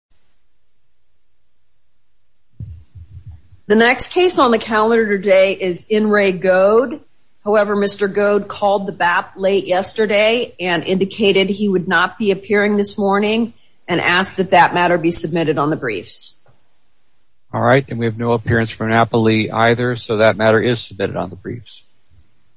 However, Mr. Goad called the BAP late yesterday and indicated he would not be appearing this morning and asked that that matter be submitted on the briefs. All right. And we have no appearance from NAPALEE either. So that matter is submitted on the briefs.